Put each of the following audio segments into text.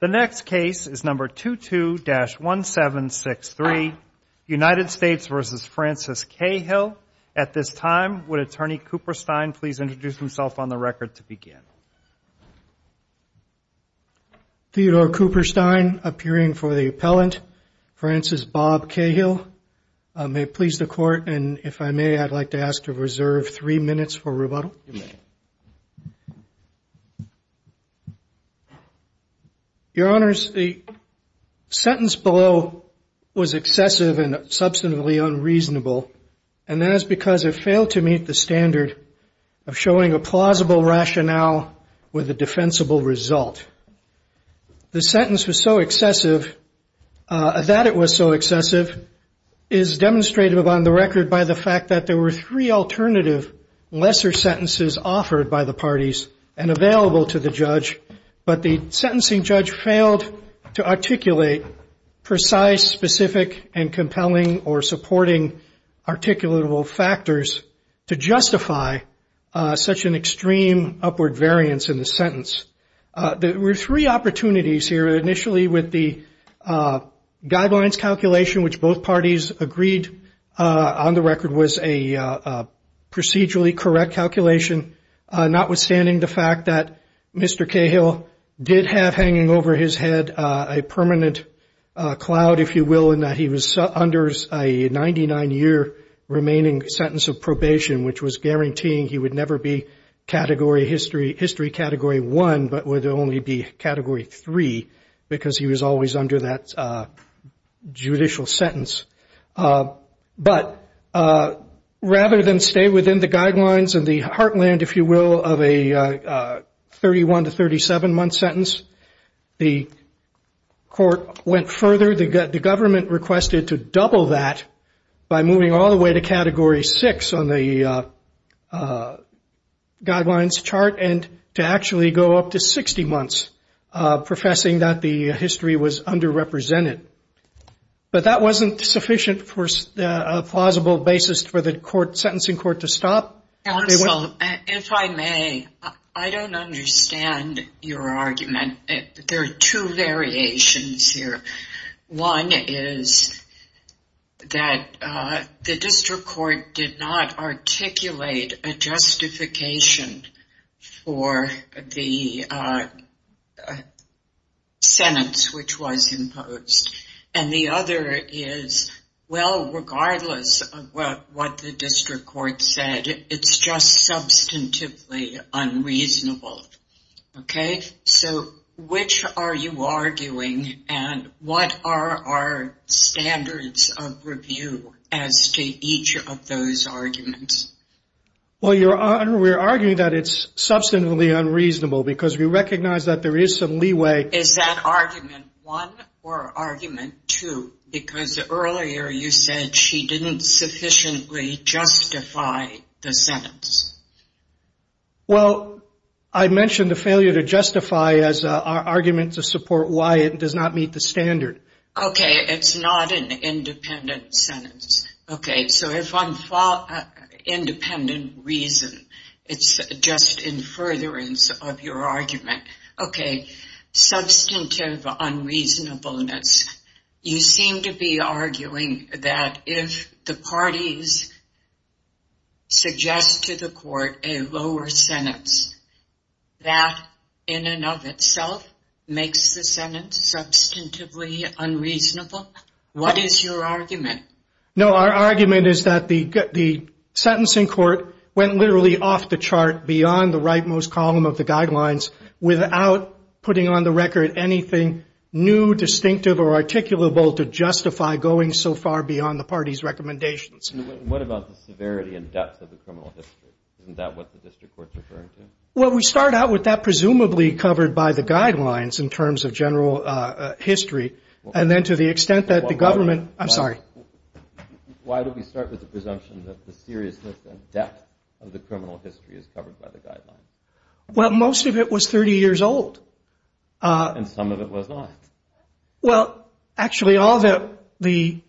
The next case is number 22-1763, United States v. Francis Cahill. At this time, would Attorney Cooper Stein please introduce himself on the record to begin? Theodore Cooper Stein, appearing for the appellant. Francis Bob Cahill. May it please the Court, and if I may, I'd like to ask to reserve three minutes for rebuttal. Your Honors, the sentence below was excessive and substantively unreasonable, and that is because it failed to meet the standard of showing a plausible rationale with a defensible result. The sentence was so excessive, that it was so excessive, is demonstrated on the record by the fact that there were three alternative lesser sentences offered by the parties and available to the judge, but the sentencing judge failed to articulate precise, specific, and compelling or supporting articulatable factors to justify such an extreme upward variance in the sentence. There were three opportunities here, initially with the guidelines calculation, which both parties agreed on the record was a procedurally correct calculation, notwithstanding the fact that Mr. Cahill did have hanging over his head a permanent cloud, if you will, in that he was under a 99-year remaining sentence of probation, which was guaranteeing he would never be category history, history category one, but would only be category three, because he was always under that judicial sentence. But rather than stay within the guidelines and the heartland, if you will, of a 31 to 37-month sentence, the court went further. The government requested to double that by moving all the way to category six on the guidelines chart and to actually go up to 60 months, professing that the history was underrepresented. But that wasn't sufficient for a plausible basis for the court, sentencing court, to stop. Counsel, if I may, I don't understand your argument. There are two variations here. One is that the district court did not articulate a justification for the sentence which was imposed. And the other is, well, regardless of what the district court said, it's just substantively unreasonable. Okay, so which are you arguing and what are our standards of review as to each of those arguments? Well, Your Honor, we're arguing that it's substantively unreasonable because we recognize that there is some leeway. Is that argument one or argument two? Because earlier you said she didn't sufficiently justify the sentence. Well, I mentioned the failure to justify as our argument to support why it does not meet the standard. Okay, it's not an independent sentence. Okay, so if I'm independent reason, it's just in furtherance of your argument. Okay, substantive unreasonableness. You seem to be arguing that if the parties suggest to the court a lower sentence, that in and of itself makes the sentence substantively unreasonable. What is your argument? No, our argument is that the sentencing court went literally off the chart beyond the rightmost column of the guidelines without putting on the record anything new, distinctive, or articulable to justify going so far beyond the party's recommendations. What about the severity and depth of the criminal history? Isn't that what the district court's referring to? Well, we start out with that presumably covered by the guidelines in terms of general history, and then to the extent that the government – I'm sorry. Why did we start with the presumption that the seriousness and depth of the criminal history is covered by the guidelines? Well, most of it was 30 years old. And some of it was not. Well, actually all the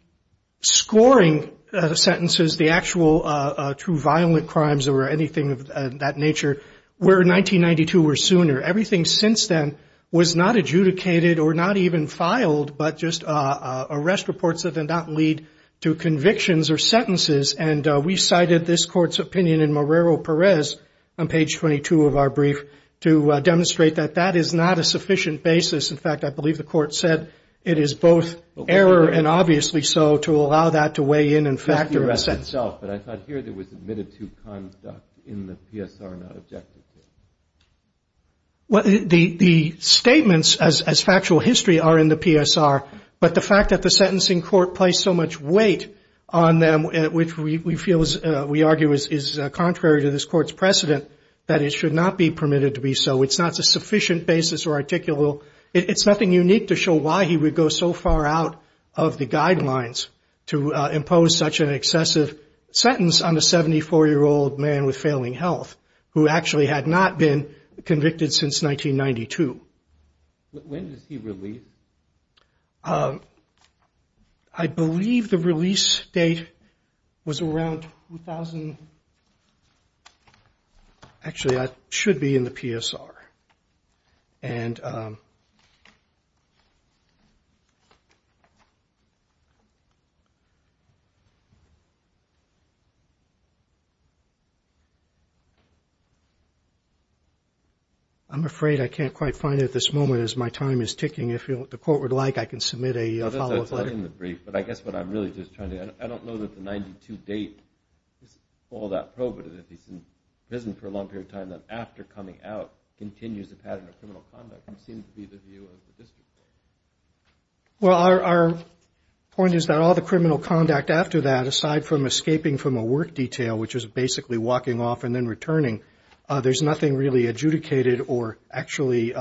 scoring sentences, the actual true violent crimes or anything of that nature, were 1992 or sooner. Everything since then was not adjudicated or not even filed, but just arrest reports that did not lead to convictions or sentences. And we cited this court's opinion in Morero-Perez on page 22 of our brief to demonstrate that that is not a sufficient basis. In fact, I believe the court said it is both error and obviously so to allow that to weigh in and factor in. But I thought here there was admitted to conduct in the PSR, not objected to. Well, the statements as factual history are in the PSR, but the fact that the sentencing court placed so much weight on them, which we argue is contrary to this court's precedent, that it should not be permitted to be so. It's not a sufficient basis or articulable. It's nothing unique to show why he would go so far out of the guidelines to impose such an excessive sentence on a 74-year-old man with failing health who actually had not been convicted since 1992. When does he release? I believe the release date was around 2000. Actually, I should be in the PSR. And... I'm afraid I can't quite find it at this moment as my time is ticking. If the court would like, I can submit a follow-up letter. But I guess what I'm really just trying to... I don't know that the 92 date is all that probative. ...that he's in prison for a long period of time, that after coming out continues the pattern of criminal conduct, which seems to be the view of the district court. Well, our point is that all the criminal conduct after that, aside from escaping from a work detail, which is basically walking off and then returning, there's nothing really adjudicated or actually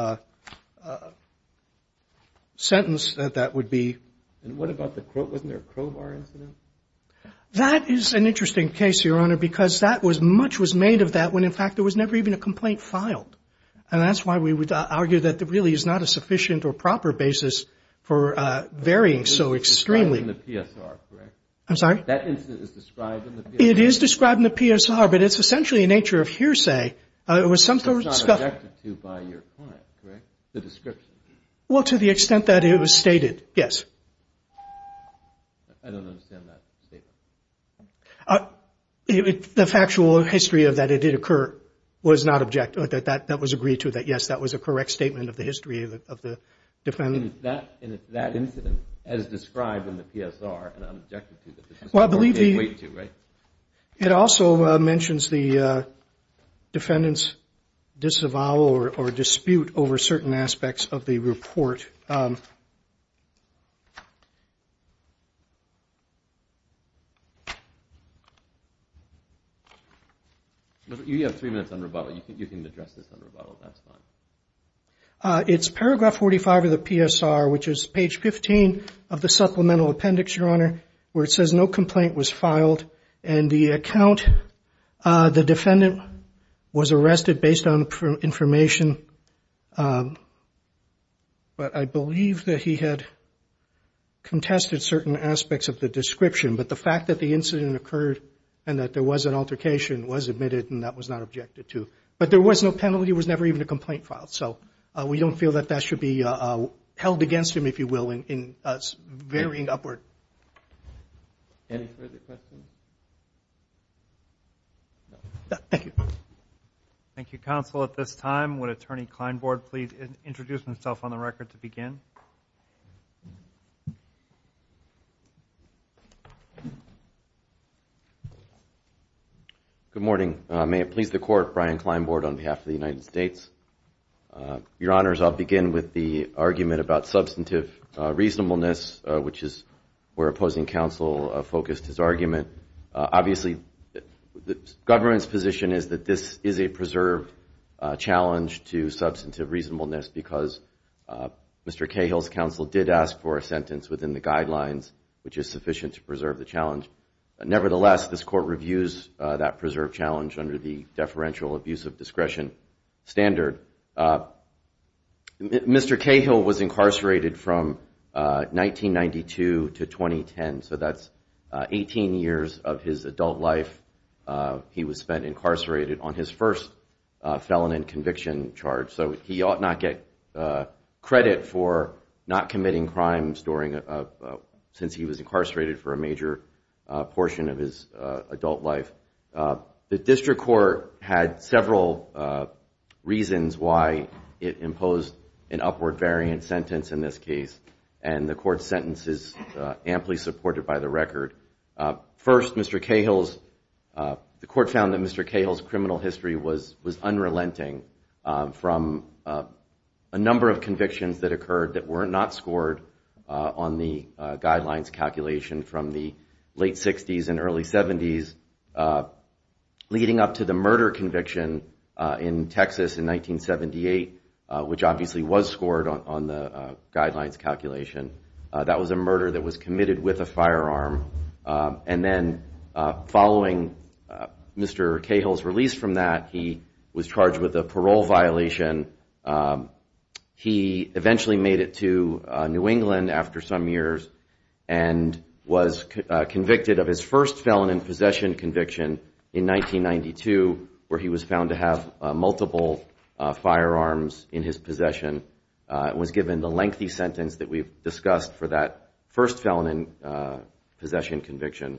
sentenced that that would be... And what about the... wasn't there a crowbar incident? That is an interesting case, Your Honor, because that was... much was made of that when, in fact, there was never even a complaint filed. And that's why we would argue that there really is not a sufficient or proper basis for varying so extremely. It's described in the PSR, correct? I'm sorry? That incident is described in the PSR. It is described in the PSR, but it's essentially a nature of hearsay. It was something... It's not objected to by your client, correct, the description? Well, to the extent that it was stated, yes. I don't understand that statement. The factual history of that it did occur was not object... that was agreed to, that, yes, that was a correct statement of the history of the defendant. And if that incident as described in the PSR and unobjected to, that the district court can't wait to, right? It also mentions the defendant's disavowal or dispute over certain aspects of the report. You have three minutes on rebuttal. You can address this on rebuttal. That's fine. It's paragraph 45 of the PSR, which is page 15 of the supplemental appendix, Your Honor, where it says no complaint was filed. And the account, the defendant was arrested based on information. But I believe that he had contested certain aspects of the description. But the fact that the incident occurred and that there was an altercation was admitted and that was not objected to. But there was no penalty. There was never even a complaint filed. So we don't feel that that should be held against him, if you will, in varying upward. Any further questions? No. Thank you. Thank you, counsel. At this time, would Attorney Kleinbord please introduce himself on the record to begin? Good morning. May it please the Court, Brian Kleinbord on behalf of the United States. Your Honors, I'll begin with the argument about substantive reasonableness, which is where opposing counsel focused his argument. Obviously, the government's position is that this is a preserved challenge to substantive reasonableness because Mr. Cahill's counsel did ask for a sentence within the guidelines, which is sufficient to preserve the challenge. Nevertheless, this Court reviews that preserved challenge under the deferential abuse of discretion standard. Mr. Cahill was incarcerated from 1992 to 2010. So that's 18 years of his adult life he was spent incarcerated on his first felon and conviction charge. So he ought not get credit for not committing crimes since he was incarcerated for a major portion of his adult life. The District Court had several reasons why it imposed an upward variant sentence in this case, and the Court's sentence is amply supported by the record. First, the Court found that Mr. Cahill's criminal history was unrelenting from a number of convictions that occurred that were not scored on the guidelines calculation from the late 60s and early 70s, leading up to the murder conviction in Texas in 1978, which obviously was scored on the guidelines calculation. That was a murder that was committed with a firearm, and then following Mr. Cahill's release from that, he was charged with a parole violation. He eventually made it to New England after some years and was convicted of his first felon in possession conviction in 1992, where he was found to have multiple firearms in his possession and was given the lengthy sentence that we've discussed for that first felon in possession conviction.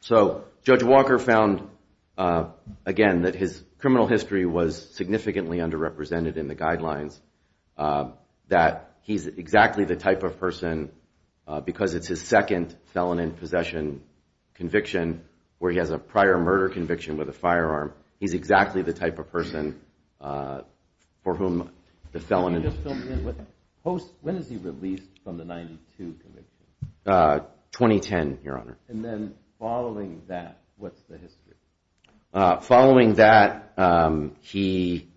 So Judge Walker found, again, that his criminal history was significantly underrepresented in the guidelines, that he's exactly the type of person, because it's his second felon in possession conviction, where he has a prior murder conviction with a firearm, he's exactly the type of person for whom the felon in possession... When was he released from the 92 conviction? 2010, Your Honor. And then following that, what's the history? Following that, he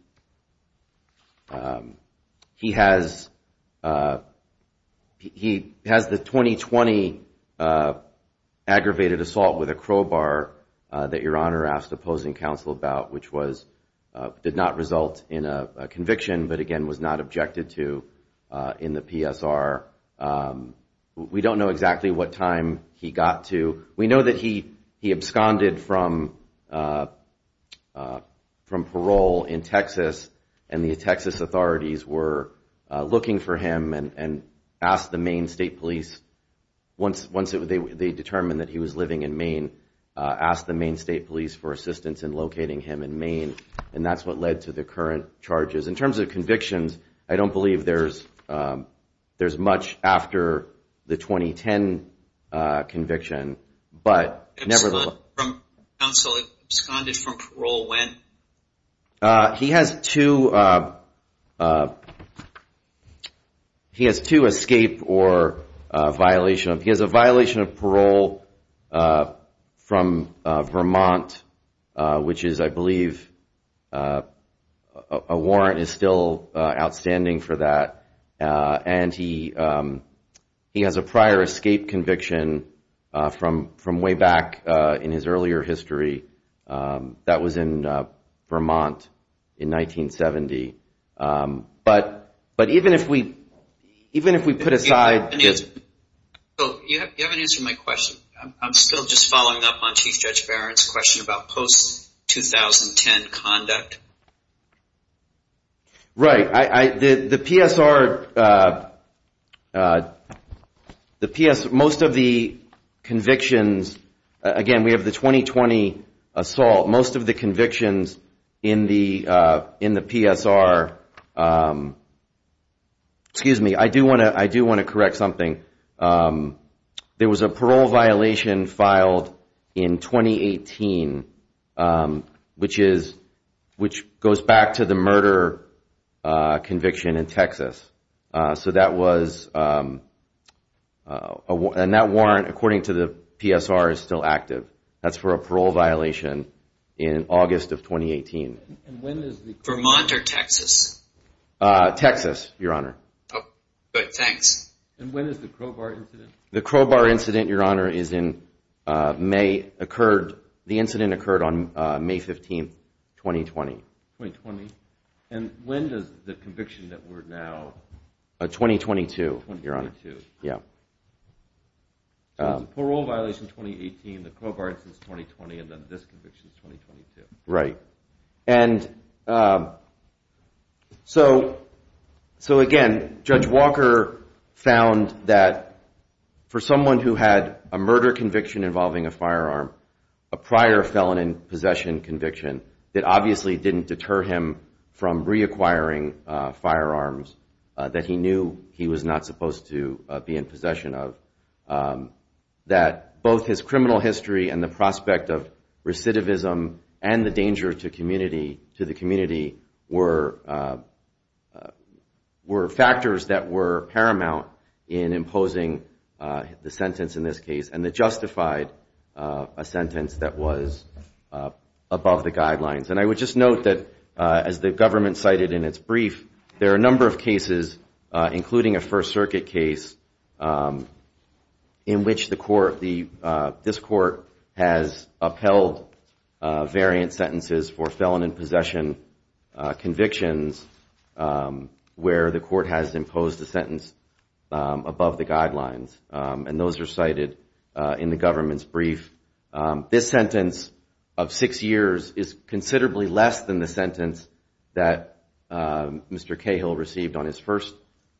has the 2020 aggravated assault with a crowbar that Your Honor asked opposing counsel about, which did not result in a conviction, but again, was not objected to in the PSR. We don't know exactly what time he got to. We know that he absconded from parole in Texas, and the Texas authorities were looking for him and asked the Maine State Police, once they determined that he was living in Maine, asked the Maine State Police for assistance in locating him in Maine, and that's what led to the current charges. In terms of convictions, I don't believe there's much after the 2010 conviction, but... Absconded from parole when? He has two escape or violation... He has a violation of parole from Vermont, which is, I believe, a warrant is still outstanding for that, and he has a prior escape conviction from way back in his earlier history that was in Portland, Vermont in 1970, but even if we put aside... You haven't answered my question. I'm still just following up on Chief Judge Barron's question about post-2010 conduct. Right. The PSR... Most of the convictions... Again, we have the 2020 assault. Most of the convictions in the PSR... Excuse me, I do want to correct something. There was a parole violation filed in 2018, which goes back to the murder conviction in Texas, and that warrant, according to the PSR, is still active. That's for a parole violation in August of 2018. Vermont or Texas? Texas, Your Honor. The Crowbar incident, Your Honor, the incident occurred on May 15, 2020. And when does the conviction that we're now... So again, Judge Walker found that for someone who had a murder conviction involving a firearm, a prior felon in possession conviction that obviously didn't deter him from reacquiring firearms that he knew he was not supposed to be in possession of, that both his criminal history and the prospect of a felony to the community were factors that were paramount in imposing the sentence in this case, and that justified a sentence that was above the guidelines. And I would just note that, as the government cited in its brief, there are a number of cases, including a First Circuit case, in which this court has upheld variant sentences for felon in possession convictions, where the court has imposed a sentence above the guidelines, and those are cited in the government's brief. This sentence of six years is considerably less than the sentence that Mr. Cahill received on his first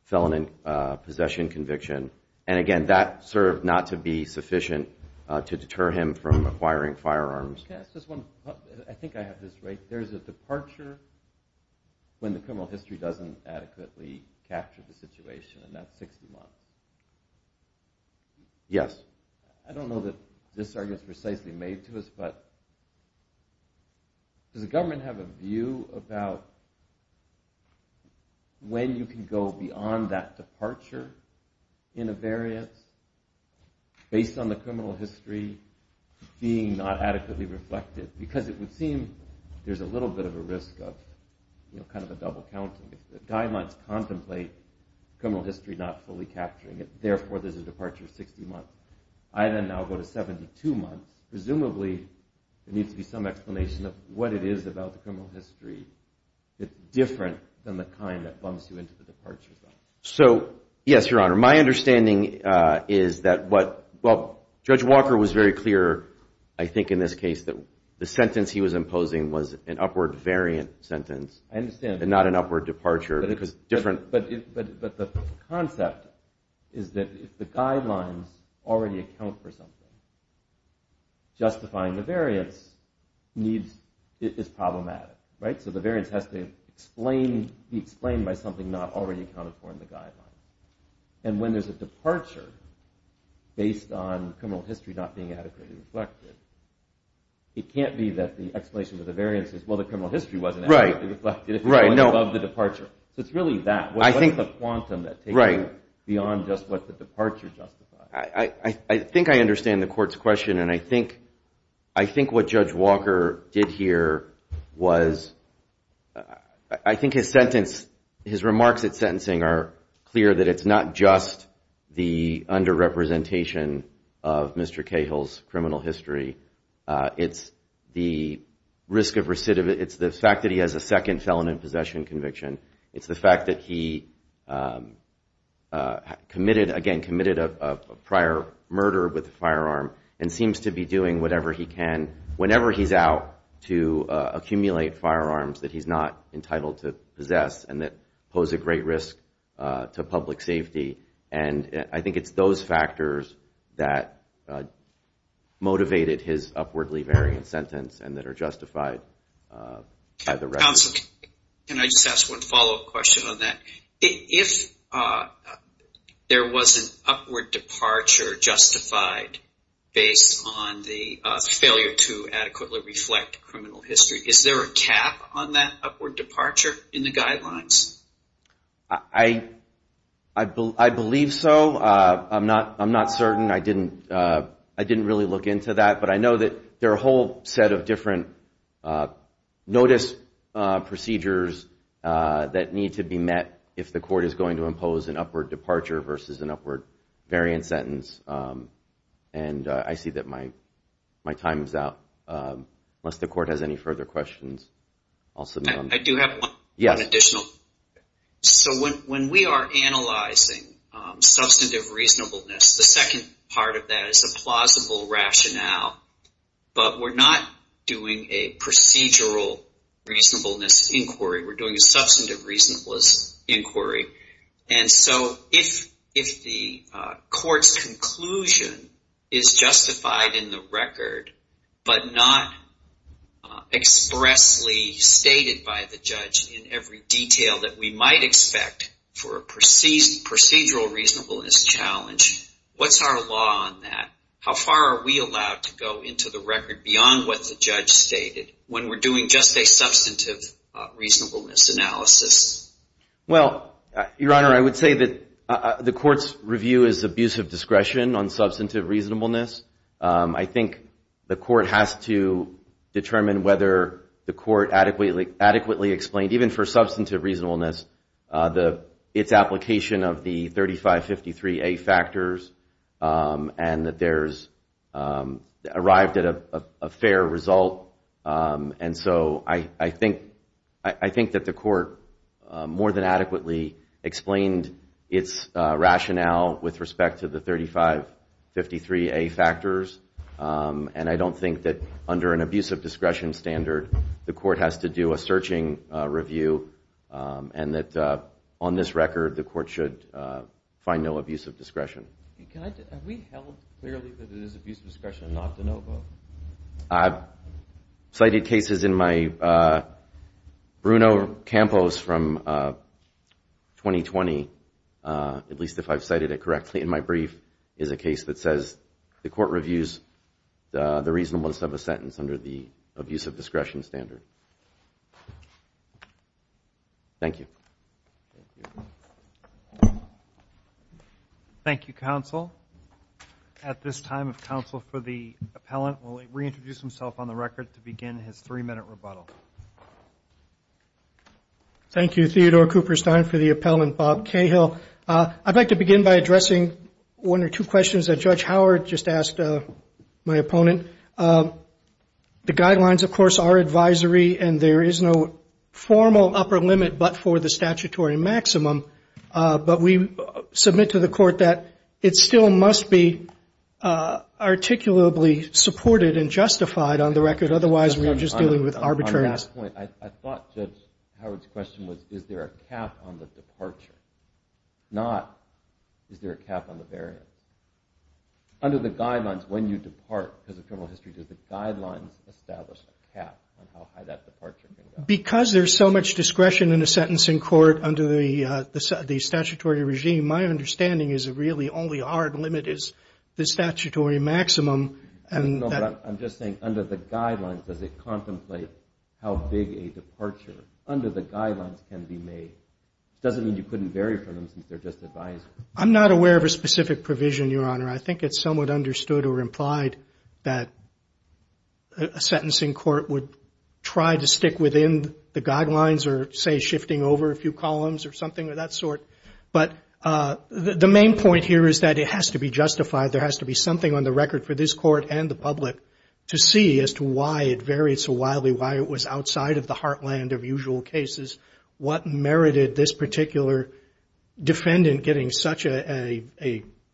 felon in possession conviction. And again, that served not to be sufficient to deter him from acquiring firearms. Can I ask just one... I think I have this right. There's a departure when the criminal history doesn't adequately capture the situation, and that's 60 months. Yes. I don't know that this argument is precisely made to us, but does the government have a view about when you can go beyond that departure in a variance based on the criminal history being not adequately reflected? Because it would seem there's a little bit of a risk of kind of a double counting. Diamonds contemplate criminal history not fully capturing it, therefore there's a departure of 60 months. I then now go to 72 months. Presumably there needs to be some explanation of what it is about the criminal history that's different than the kind that bumps you into the departure zone. So, yes, Your Honor, my understanding is that what... Well, Judge Walker was very clear, I think, in this case, that the sentence he was imposing was an upward variant sentence and not an upward departure. But the concept is that if the guidelines already account for something, justifying the variance is problematic. So the variance has to be explained by something not already accounted for in the guidelines. And when there's a departure based on criminal history not being adequately reflected, it can't be that the explanation of the variance is, well, the criminal history wasn't adequately reflected if it was above the departure. So it's really that. What is the quantum that takes you beyond just what the departure justifies? I think I understand the Court's question, and I think what Judge Walker did here was... His remarks at sentencing are clear that it's not just the underrepresentation of Mr. Cahill's criminal history. It's the risk of recidivism. It's the fact that he has a second felon in possession conviction. It's the fact that he committed, again, committed a prior murder with a firearm and seems to be doing whatever he can whenever he's out to accumulate firearms that he's not entitled to possess and that pose a great risk to public safety. And I think it's those factors that motivated his upwardly variant sentence and that are justified by the record. Counsel, can I just ask one follow-up question on that? If there was an upward departure justified based on the failure to adequately reflect criminal history, is there a cap on that upward departure in the guidelines? I believe so. I'm not certain. I didn't really look into that. But I know that there are a whole set of different notice procedures that need to be met to make sure that the criminal history is justified if the court is going to impose an upward departure versus an upward variant sentence. And I see that my time is out, unless the court has any further questions. I do have one additional. So when we are analyzing substantive reasonableness, the second part of that is a plausible rationale. But we're not doing a procedural reasonableness inquiry. We're doing a substantive reasonableness inquiry. And so if the court's conclusion is justified in the record but not expressly stated by the judge in every detail that we might expect for a procedural reasonableness challenge, what's our law on that? How far are we allowed to go into the record beyond what the judge stated when we're doing just a substantive reasonableness analysis? Your Honor, I would say that the court's review is abuse of discretion on substantive reasonableness. I think the court has to determine whether the court adequately explained, even for substantive reasonableness, its application of the 3553A factors and that there's arrived at a fair result. And so I think that the court more than adequately explained its rationale with respect to the 3553A factors. And I don't think that under an abuse of discretion standard, the court has to do a searching review and that on this record, the court should find no abuse of discretion. Have we held clearly that it is abuse of discretion not to know both? I've cited cases in my Bruno Campos from 2020, at least if I've cited it correctly in my brief, is a case that says the court reviews the reasonableness of a sentence under the abuse of discretion standard. Thank you. Thank you, counsel. At this time, if counsel for the appellant will reintroduce himself on the record to begin his three-minute rebuttal. Thank you, Theodore Cooperstein, for the appellant, Bob Cahill. I'd like to begin by addressing one or two questions that Judge Howard just asked my opponent. The guidelines, of course, are advisory and there is no formal upper limit but for the statutory maximum. But we submit to the court that it still must be articulably supported and justified on the record. Otherwise, we are just dealing with arbitrariness. Not, is there a cap on the variance? Under the guidelines, when you depart because of criminal history, does the guidelines establish a cap on how high that departure can go? Because there's so much discretion in a sentence in court under the statutory regime, my understanding is really only our limit is the statutory maximum. No, but I'm just saying under the guidelines, does it contemplate how big a departure under the guidelines can be made? It doesn't mean you couldn't vary from them since they're just advisory. I'm not aware of a specific provision, Your Honor. I think it's somewhat understood or implied that a sentencing court would try to stick within the guidelines or, say, shifting over a few columns or something of that sort. But the main point here is that it has to be justified. There has to be something on the record for this court and the public to see as to why it varied so wildly, why it was outside of the heartland of usual cases. What merited this particular defendant getting such an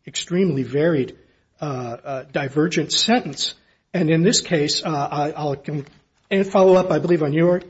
extremely varied divergent sentence? And in this case, I'll follow up, I believe, on your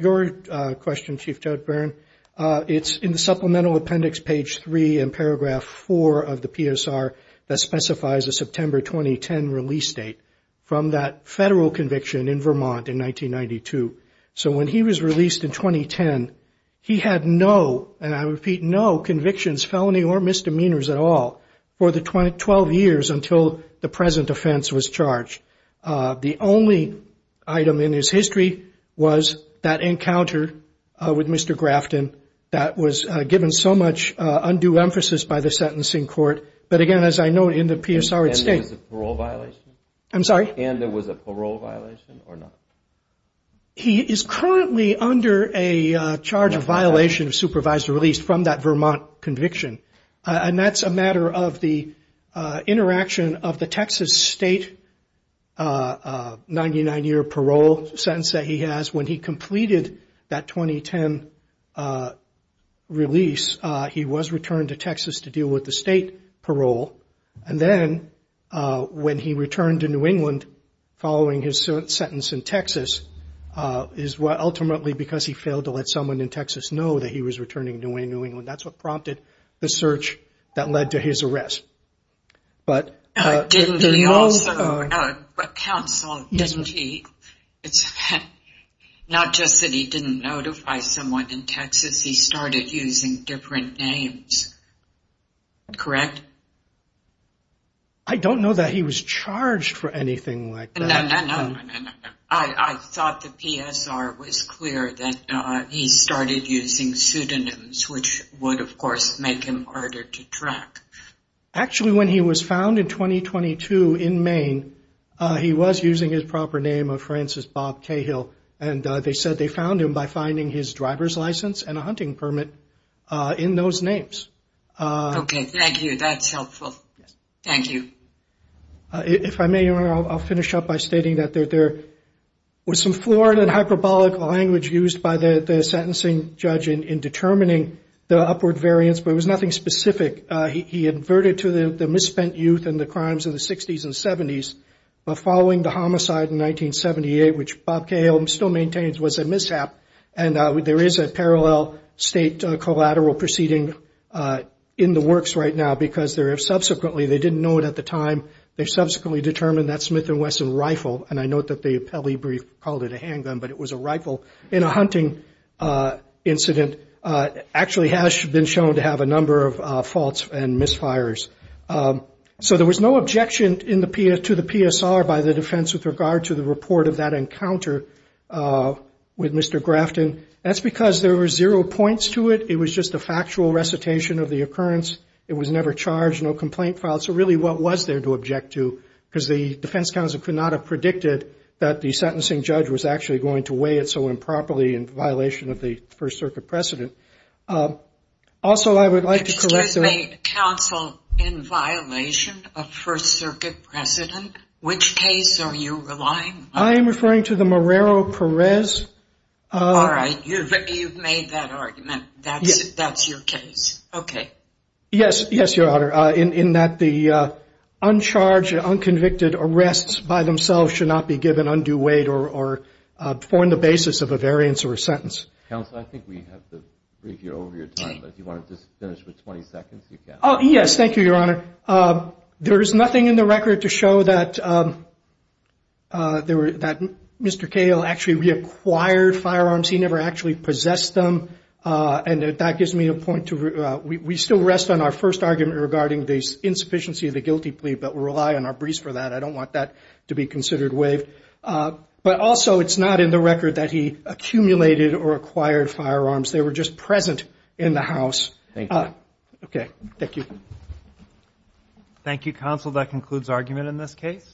question, Chief Judge Barron. It's in the Supplemental Appendix, page 3 and paragraph 4 of the PSR that specifies a September 2010 release date from that federal conviction in Vermont in 1992. So when he was released in 2010, he had no, and I repeat, no convictions, felony, or misdemeanors at all for the 12 years until the present offense was charged. The only item in his history was that encounter with Mr. Grafton that was given so much undue emphasis by the sentencing court. But again, as I note in the PSR, it states... And there was a parole violation or not? He is currently under a charge of violation of supervisory release from that Vermont conviction. And that's a matter of the interaction of the Texas state 99-year parole sentence that he has. When he completed that 2010 release, he was returned to Texas to deal with the state parole. And then when he returned to New England, he was released on parole. And the reason he was released in New England following his sentence in Texas is ultimately because he failed to let someone in Texas know that he was returning to New England. That's what prompted the search that led to his arrest. But didn't he also, but counsel, didn't he, it's not just that he didn't notify someone in Texas, he started using different names, correct? I don't know that he was charged for anything like that. I thought the PSR was clear that he started using pseudonyms, which would, of course, make him harder to track. Actually, when he was found in 2022 in Maine, he was using his proper name of Francis Bob Cahill. And they said they found him by finding his driver's license and a hunting permit in those names. Okay, thank you. That's helpful. Thank you. If I may, Your Honor, I'll finish up by stating that there was some foreign and hyperbolic language used by the sentencing judge in determining the upward variance, but it was nothing specific. He inverted to the misspent youth and the crimes of the 60s and 70s, but following the homicide in 1978, which Bob Cahill still maintains was a mishap, and there is a parallel state collateral proceeding. In the works right now, because subsequently, they didn't know it at the time, they subsequently determined that Smith & Wesson rifle, and I note that the appellee brief called it a handgun, but it was a rifle in a hunting incident, actually has been shown to have a number of faults and misfires. So there was no objection to the PSR by the defense with regard to the report of that encounter with Mr. Grafton. That's because there were zero points to it. It was just a factual recitation of the occurrence. It was never charged, no complaint filed. So really, what was there to object to? Because the defense counsel could not have predicted that the sentencing judge was actually going to weigh it so improperly in violation of the First Circuit precedent. Also, I would like to correct the... I am referring to the Morero Perez. All right, you've made that argument. That's your case. Yes, Your Honor, in that the uncharged, unconvicted arrests by themselves should not be given undue weight or formed the basis of a variance or a sentence. Counsel, I think we have to bring you over your time, but if you want to just finish with 20 seconds, you can. Yes, thank you, Your Honor. There is nothing in the record to show that Mr. Cahill actually reacquired firearms. He never actually possessed them. And that gives me a point to... We still rest on our first argument regarding the insufficiency of the guilty plea, but we rely on our briefs for that. I don't want that to be considered waived. But also, it's not in the record that he accumulated or acquired firearms. They were just present in the house. Thank you.